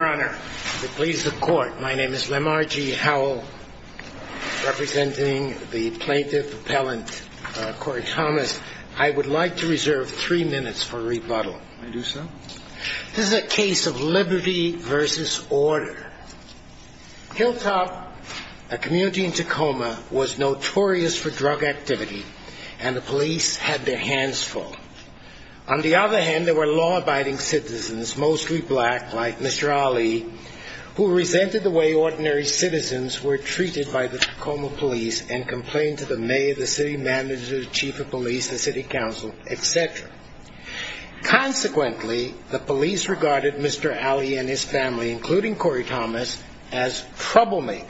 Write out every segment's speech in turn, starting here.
Your Honor, the police, the court, my name is Lamar G. Howell, representing the plaintiff-appellant Corey Thomas. I would like to reserve three minutes for rebuttal. I do so. This is a case of liberty versus order. Hilltop, a community in Tacoma, was notorious for drug activity, and the police had their hands full. On the other hand, there were law-abiding citizens, mostly black, like Mr. Ali, who resented the way ordinary citizens were treated by the Tacoma police and complained to the mayor, the city manager, the chief of police, the city council, etc. Consequently, the police regarded Mr. Ali and his family, including Corey Thomas, as troublemakers.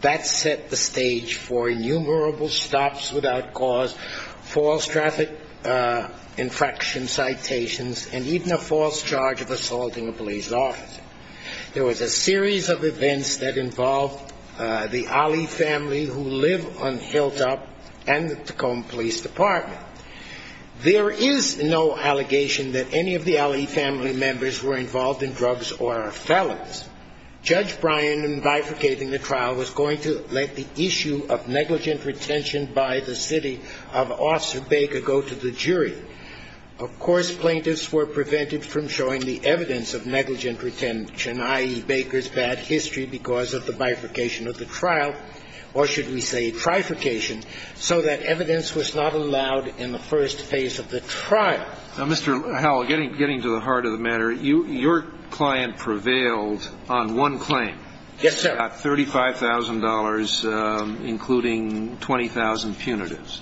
That set the stage for innumerable stops without cause, false traffic infraction citations, and even a false charge of assaulting a police officer. There was a series of events that involved the Ali family who live on Hilltop and the Tacoma Police Department. There is no allegation that any of the Ali family members were involved in drugs or felons. Judge Bryan, in bifurcating the trial, was going to let the issue of negligent retention by the city of Officer Baker go to the jury. Of course, plaintiffs were prevented from showing the evidence of negligent retention, i.e. Baker's bad history because of the bifurcation of the trial, or should we say trifurcation, so that evidence was not allowed in the first phase of the trial. Mr. Howell, getting to the heart of the matter, your client prevailed on one claim. Yes, sir. About $35,000, including 20,000 punitives.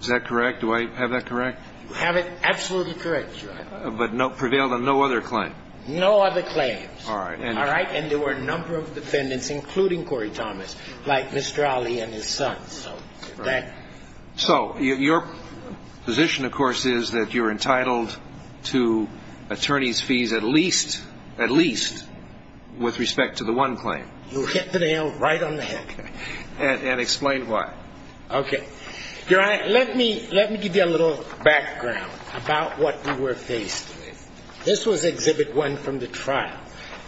Is that correct? Do I have that correct? You have it absolutely correct, Judge. But prevailed on no other claim? No other claims. All right. And there were a number of defendants, including Corey Thomas, like Mr. Ali and his son. So your position, of course, is that you're entitled to attorney's fees at least with respect to the one claim. You hit the nail right on the head. And explain why. Okay. Let me give you a little background about what we were faced with. This was Exhibit 1 from the trial.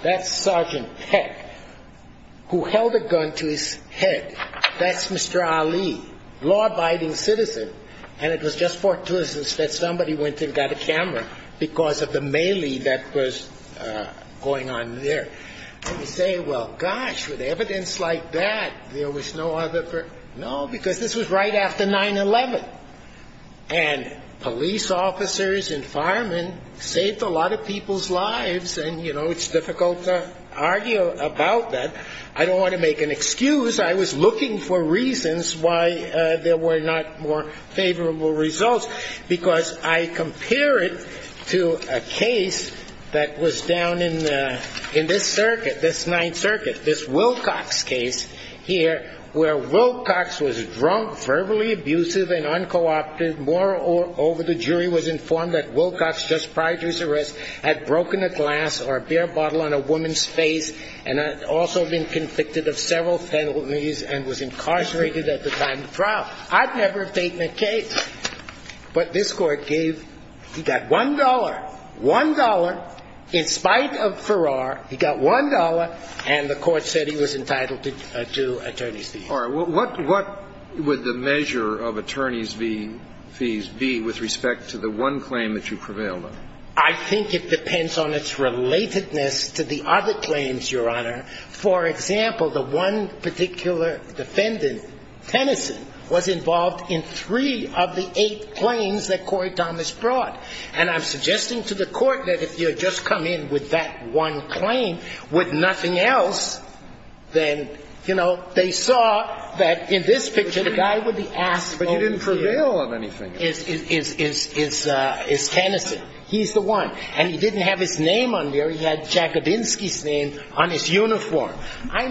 That's Sergeant Peck, who held a gun to his head. That's Mr. Ali, law-abiding citizen. And it was just fortuitous that somebody went and got a camera because of the melee that was going on there. And we say, well, gosh, with evidence like that, there was no other. No, because this was right after 9-11. And police officers and firemen saved a lot of people's lives. And, you know, it's difficult to argue about that. I don't want to make an excuse. I was looking for reasons why there were not more favorable results, because I compare it to a case that was down in this circuit, this Ninth Circuit, this Wilcox case here, where Wilcox was drunk, verbally abusive, and uncooperative. Moreover, the jury was informed that Wilcox, just prior to his arrest, had broken a glass or a beer bottle on a woman's face and had also been convicted of several penalties and was incarcerated at the time of trial. I'd never taken a case. But this Court gave he got $1, $1 in spite of Farrar. He got $1, and the Court said he was entitled to attorneys' fees. All right. What would the measure of attorneys' fees be with respect to the one claim that you prevailed on? I think it depends on its relatedness to the other claims, Your Honor. For example, the one particular defendant, Tennyson, was involved in three of the eight claims that Corey Thomas brought. And I'm suggesting to the Court that if you had just come in with that one claim, with nothing else, then, you know, they saw that in this picture, the guy with the ass over here is Tennyson. He's the one. And he didn't have his name on there. He had Jakabinsky's name on his uniform. All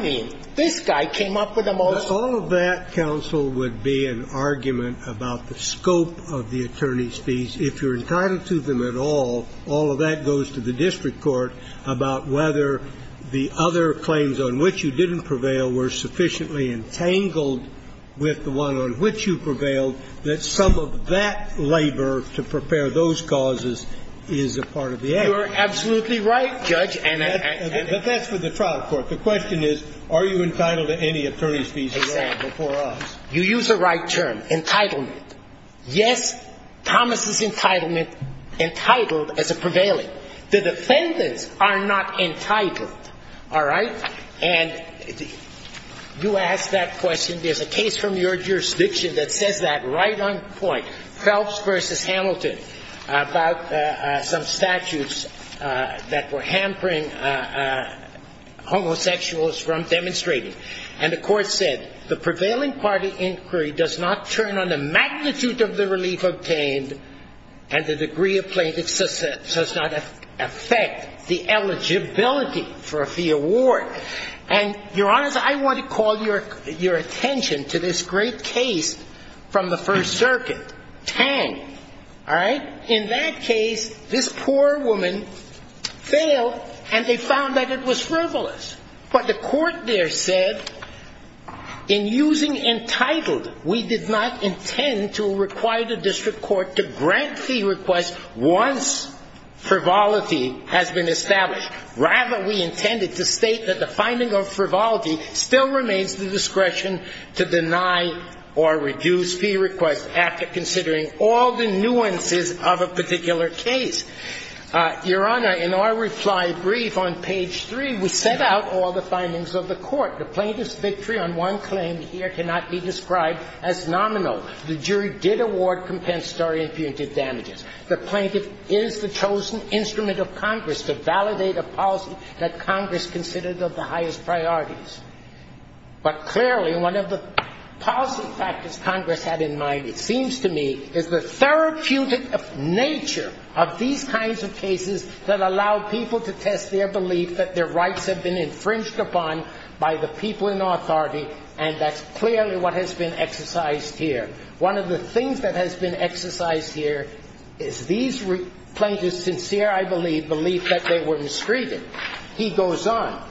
of that, counsel, would be an argument about the scope of the attorneys' fees. If you're entitled to them at all, all of that goes to the district court about whether the other claims on which you didn't prevail were sufficiently entangled with the one on which you prevailed that some of that labor to prepare those causes is a part of the act. You are absolutely right, Judge. But that's for the trial court. The question is, are you entitled to any attorney's fees at all before us? Exactly. You use the right term, entitlement. Yes, Thomas' entitlement, entitled as a prevailing. The defendants are not entitled. All right? And you ask that question. There's a case from your jurisdiction that says that right on point. Hamilton about some statutes that were hampering homosexuals from demonstrating. And the court said, the prevailing party inquiry does not turn on the magnitude of the relief obtained and the degree of plaintiffs does not affect the eligibility for a fee award. And, Your Honor, I want to call your attention to this great case from the First Circuit Tang. All right? In that case, this poor woman failed and they found that it was frivolous. But the court there said, in using entitled, we did not intend to require the district court to grant fee requests once frivolity has been established. Rather, we intended to state that the finding of frivolity still remains the discretion to deny or reduce fee requests after considering all the nuances of a particular case. Your Honor, in our reply brief on page 3, we set out all the findings of the court. The plaintiff's victory on one claim here cannot be described as nominal. The jury did award compensatory and punitive damages. The plaintiff is the chosen instrument of Congress to validate a policy that Congress considers of the highest priorities. But clearly one of the policy factors Congress had in mind, it seems to me, is the therapeutic nature of these kinds of cases that allow people to test their belief that their rights have been infringed upon by the people in authority, and that's clearly what has been exercised here. One of the things that has been exercised here is these plaintiffs' sincere, I believe, belief that they were mistreated. He goes on.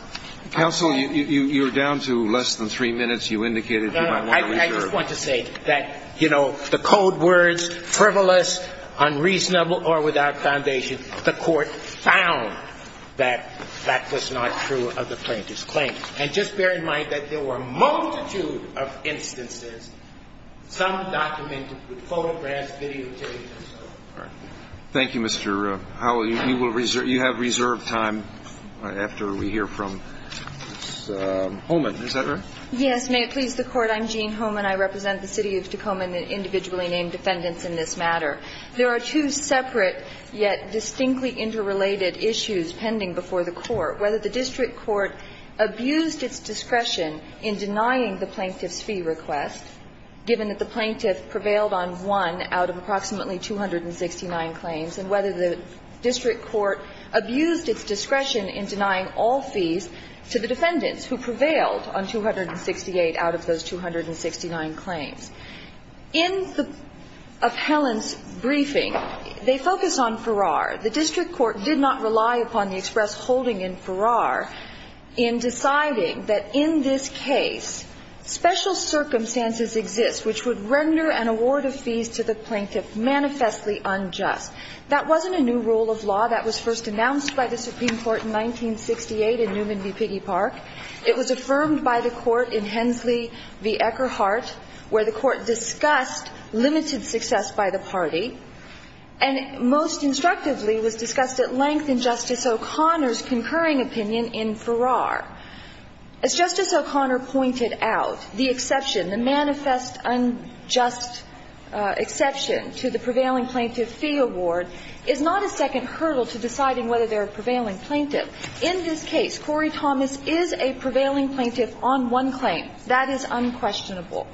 Counsel, you're down to less than three minutes. You indicated you might want to reserve. I just want to say that, you know, the code words, frivolous, unreasonable, or without foundation, the court found that that was not true of the plaintiff's claim. And just bear in mind that there were a multitude of instances, some documented with photographs, videotapes, and so forth. All right. Thank you, Mr. Howell. You will reserve. You have reserved time after we hear from Ms. Holman. Is that right? Yes. May it please the Court? I'm Jean Holman. I represent the City of Tacoma and the individually named defendants in this matter. There are two separate yet distinctly interrelated issues pending before the Court. Whether the district court abused its discretion in denying the plaintiff's fee request, given that the plaintiff prevailed on one out of approximately 269 claims, and whether the district court abused its discretion in denying all fees to the defendants, who prevailed on 268 out of those 269 claims. In the appellant's briefing, they focus on Farrar. The district court did not rely upon the express holding in Farrar in deciding that in this case, special circumstances exist which would render an award of fees to the plaintiff manifestly unjust. That wasn't a new rule of law that was first announced by the Supreme Court in 1968 in Newman v. Piggy Park. It was affirmed by the Court in Hensley v. Eckerhart, where the Court discussed limited success by the party, and most instructively was discussed at length in Justice O'Connor's concurring opinion in Farrar. As Justice O'Connor pointed out, the exception, the manifest unjust exception to the prevailing plaintiff fee award is not a second hurdle to deciding whether they're a prevailing plaintiff. In this case, Corey Thomas is a prevailing plaintiff on one claim. That is unquestionable.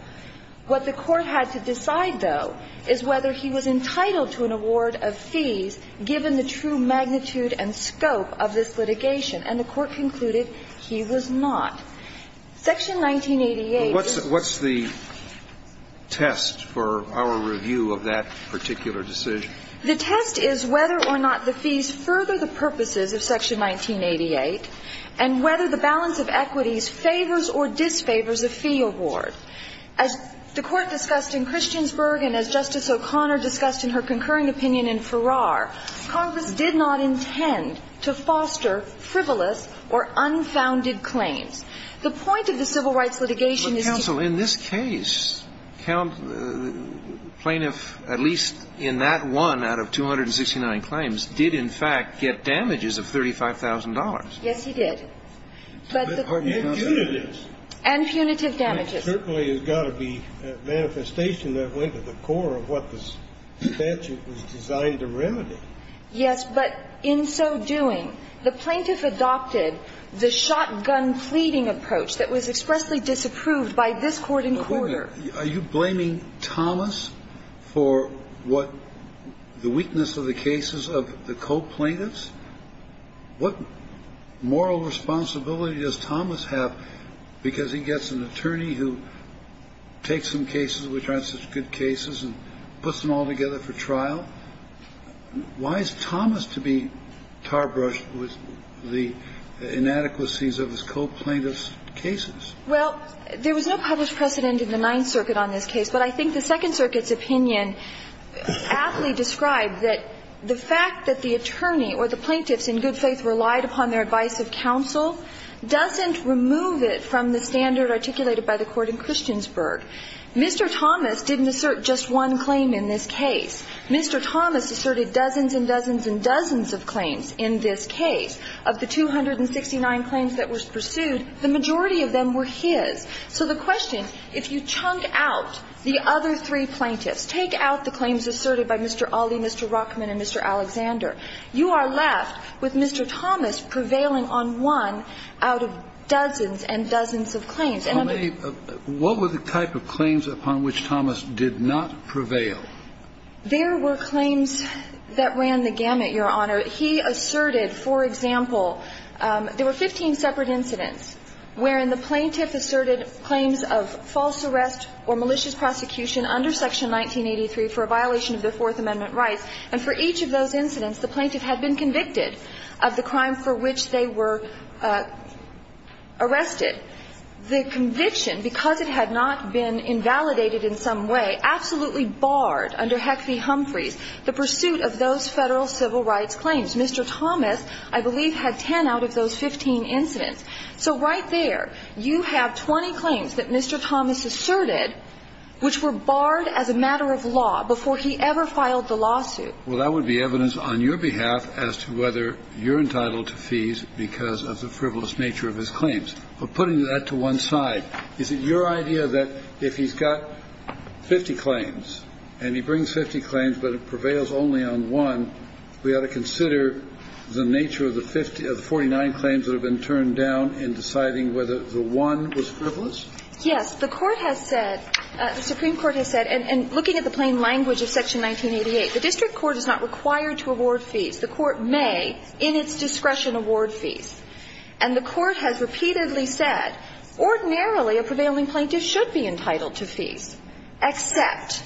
What the Court had to decide, though, is whether he was entitled to an award of fees given the true magnitude and scope of this litigation. And the Court concluded he was not. Section 1988 is the case. But what's the test for our review of that particular decision? The test is whether or not the fees further the purposes of Section 1988 and whether the balance of equities favors or disfavors a fee award. As the Court discussed in Christiansburg and as Justice O'Connor discussed in her concurring opinion in Farrar, Congress did not intend to foster frivolous or unfounded claims. The point of the civil rights litigation is to ---- But, counsel, in this case, plaintiff, at least in that one out of 269 claims, did in fact get damages of $35,000. Yes, he did. And punitive. And punitive damages. Certainly there's got to be a manifestation that went to the core of what this statute was designed to remedy. Yes, but in so doing, the plaintiff adopted the shotgun pleading approach that was expressly disapproved by this Court in quarter. Are you blaming Thomas for what the weakness of the cases of the co-plaintiffs? What moral responsibility does Thomas have because he gets an attorney who takes some cases which aren't such good cases and puts them all together for trial? Why is Thomas to be tarbrushed with the inadequacies of his co-plaintiffs' cases? Well, there was no published precedent in the Ninth Circuit on this case, but I think the Second Circuit's opinion aptly described that the fact that the attorney or the plaintiffs in good faith relied upon their advice of counsel doesn't remove it from the standard articulated by the Court in Christiansburg. Mr. Thomas didn't assert just one claim in this case. Mr. Thomas asserted dozens and dozens and dozens of claims in this case. Of the 269 claims that were pursued, the majority of them were his. So the question, if you chunk out the other three plaintiffs, take out the claims asserted by Mr. Ali, Mr. Rockman, and Mr. Alexander, you are left with Mr. Thomas prevailing on one out of dozens and dozens of claims. And I'm going to be brief. What were the type of claims upon which Thomas did not prevail? There were claims that ran the gamut, Your Honor. He asserted, for example, there were 15 separate incidents wherein the plaintiff asserted claims of false arrest or malicious prosecution under Section 1983 for a violation of the Fourth Amendment rights. And for each of those incidents, the plaintiff had been convicted of the crime for which they were arrested. The conviction, because it had not been invalidated in some way, absolutely barred under Heffey-Humphreys the pursuit of those Federal civil rights claims. Mr. Thomas, I believe, had 10 out of those 15 incidents. So right there, you have 20 claims that Mr. Thomas asserted which were barred as a matter of law before he ever filed the lawsuit. Well, that would be evidence on your behalf as to whether you're entitled to fees because of the frivolous nature of his claims. But putting that to one side, is it your idea that if he's got 50 claims and he brings 50 claims but prevails only on one, we ought to consider the nature of the 49 claims that have been turned down in deciding whether the one was frivolous? Yes. The Court has said, the Supreme Court has said, and looking at the plain language of Section 1988, the district court is not required to award fees. The court may, in its discretion, award fees. And the Court has repeatedly said, ordinarily, a prevailing plaintiff should be entitled to fees, except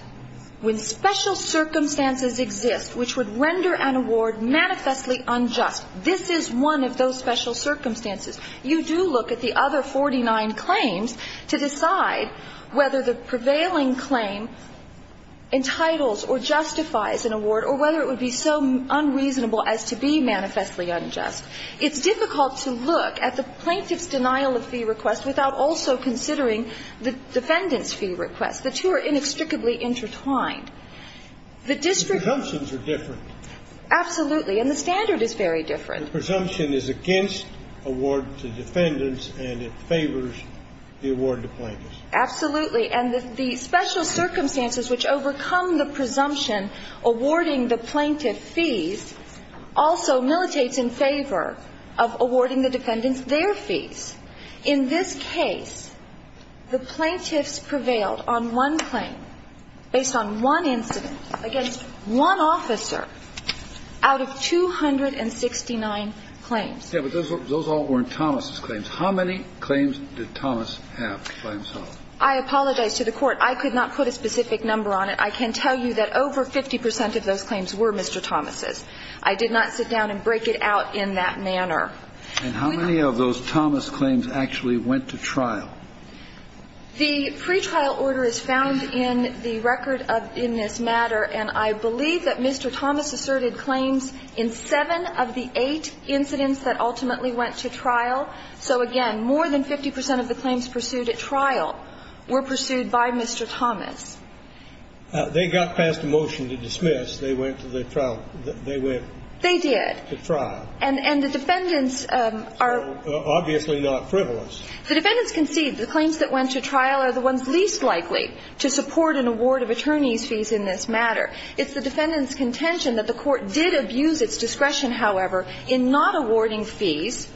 when special circumstances exist which would render an award manifestly unjust. This is one of those special circumstances. You do look at the other 49 claims to decide whether the prevailing claim entitles or justifies an award or whether it would be so unreasonable as to be manifestly unjust. It's difficult to look at the plaintiff's denial of fee request without also considering the defendant's fee request. The two are inextricably intertwined. The district court ---- The presumptions are different. Absolutely. And the standard is very different. The presumption is against award to defendants and it favors the award to plaintiffs. Absolutely. And the special circumstances which overcome the presumption awarding the plaintiff fees also militates in favor of awarding the defendants their fees. In this case, the plaintiffs prevailed on one claim based on one incident against one officer out of 269 claims. Yes, but those all weren't Thomas's claims. How many claims did Thomas have by himself? I apologize to the Court. I could not put a specific number on it. I can tell you that over 50 percent of those claims were Mr. Thomas's. I did not sit down and break it out in that manner. And how many of those Thomas claims actually went to trial? The pretrial order is found in the record in this matter. And I believe that Mr. Thomas asserted claims in seven of the eight incidents that ultimately went to trial. So, again, more than 50 percent of the claims pursued at trial were pursued by Mr. Thomas. They got passed a motion to dismiss. They went to the trial. They went to trial. They did. And the defendants are ---- So obviously not frivolous. The defendants concede the claims that went to trial are the ones least likely to support an award of attorney's fees in this matter. It's the defendants' contention that the Court did abuse its discretion, however, in not awarding fees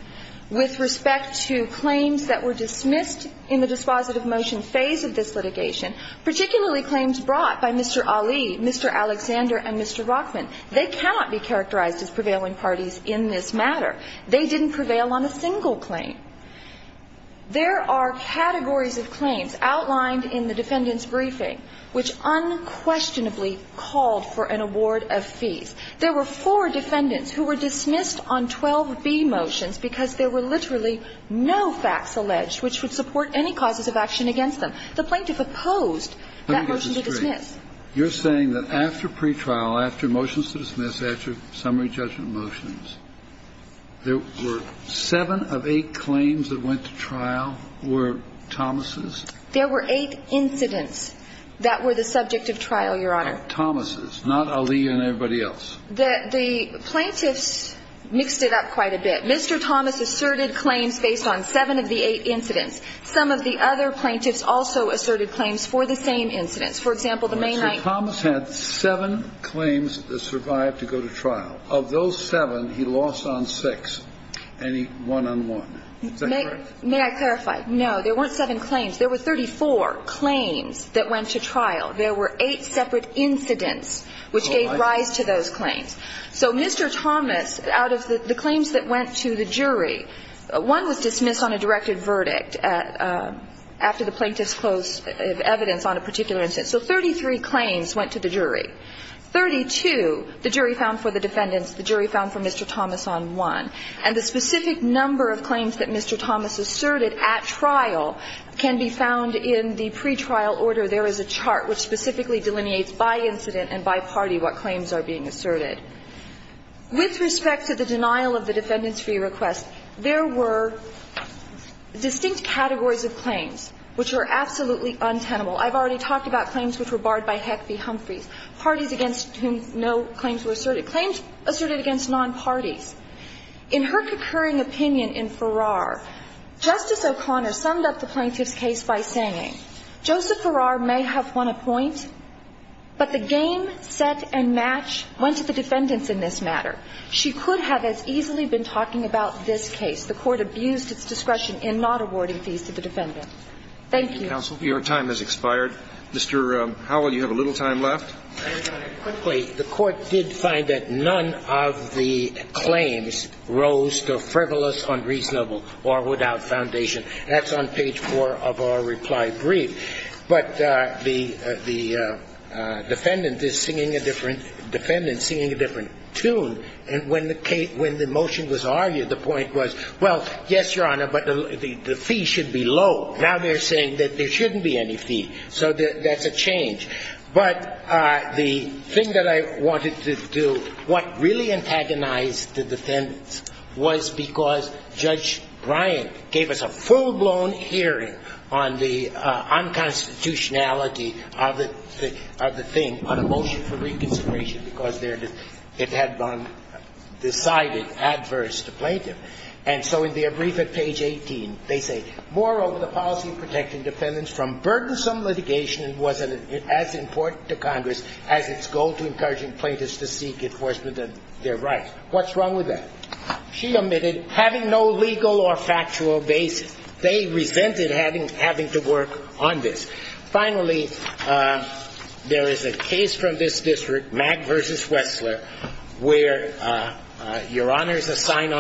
with respect to claims that were dismissed in the dispositive motion phase of this litigation, particularly claims brought by Mr. Ali, Mr. Alexander, and Mr. Rockman. They cannot be characterized as prevailing parties in this matter. They didn't prevail on a single claim. There are categories of claims outlined in the defendants' briefing which unquestionably called for an award of fees. There were four defendants who were dismissed on 12b motions because there were literally no facts alleged which would support any causes of action against them. The plaintiff opposed that motion to dismiss. Let me get this straight. You're saying that after pretrial, after motions to dismiss, after summary judgment motions, there were seven of eight claims that went to trial were Thomas's? There were eight incidents that were the subject of trial, Your Honor. Thomas's, not Ali and everybody else. The plaintiffs mixed it up quite a bit. Mr. Thomas asserted claims based on seven of the eight incidents. Some of the other plaintiffs also asserted claims for the same incidents. For example, the May 9th. Mr. Thomas had seven claims that survived to go to trial. Of those seven, he lost on six, and he won on one. Is that correct? May I clarify? No, there weren't seven claims. There were 34 claims that went to trial. There were eight separate incidents which gave rise to those claims. So Mr. Thomas, out of the claims that went to the jury, one was dismissed on a directed verdict after the plaintiffs closed evidence on a particular incident. So 33 claims went to the jury. 32, the jury found for the defendants. The jury found for Mr. Thomas on one. And the specific number of claims that Mr. Thomas asserted at trial can be found in the pretrial order. There is a chart which specifically delineates by incident and by party what claims are being asserted. With respect to the denial of the defendant's free request, there were distinct categories of claims which were absolutely untenable. I've already talked about claims which were barred by Heck v. Humphreys. Parties against whom no claims were asserted. Claims asserted against non-parties. In her concurring opinion in Farrar, Justice O'Connor summed up the plaintiff's case by saying, Joseph Farrar may have won a point, but the game, set, and match went to the defendants in this matter. She could have as easily been talking about this case. The Court abused its discretion in not awarding fees to the defendant. Thank you. Counsel, your time has expired. Mr. Howell, you have a little time left. And, Your Honor, quickly, the Court did find that none of the claims rose to frivolous, unreasonable, or without foundation. That's on page 4 of our reply brief. But the defendant is singing a different tune. And when the motion was argued, the point was, well, yes, Your Honor, but the fee should be low. Now they're saying that there shouldn't be any fee. So that's a change. But the thing that I wanted to do, what really antagonized the defendants was because Judge Bryant gave us a full-blown hearing on the unconstitutionality of the thing on a motion for reconsideration because it had been decided adverse to plaintiff. And so in their brief at page 18, they say, Moreover, the policy of protecting defendants from burdensome litigation wasn't as important to Congress as its goal to encouraging plaintiffs to seek enforcement of their rights. What's wrong with that? She admitted having no legal or factual basis. They resented having to work on this. Finally, there is a case from this district, Mack v. Wessler, where Your Honor is assigned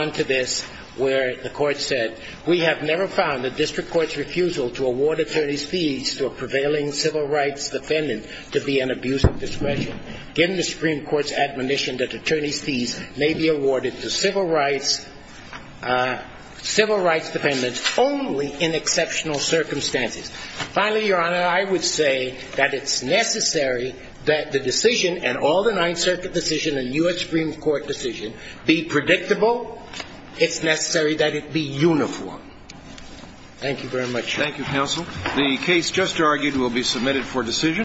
where the court said, We have never found the district court's refusal to award attorney's fees to a prevailing civil rights defendant to be an abuse of discretion given the Supreme Court's admonition that attorney's fees may be awarded to civil rights defendants only in exceptional circumstances. Finally, Your Honor, I would say that it's necessary that the decision and all the It's necessary that it be uniform. Thank you very much. Thank you, counsel. The case just argued will be submitted for decision.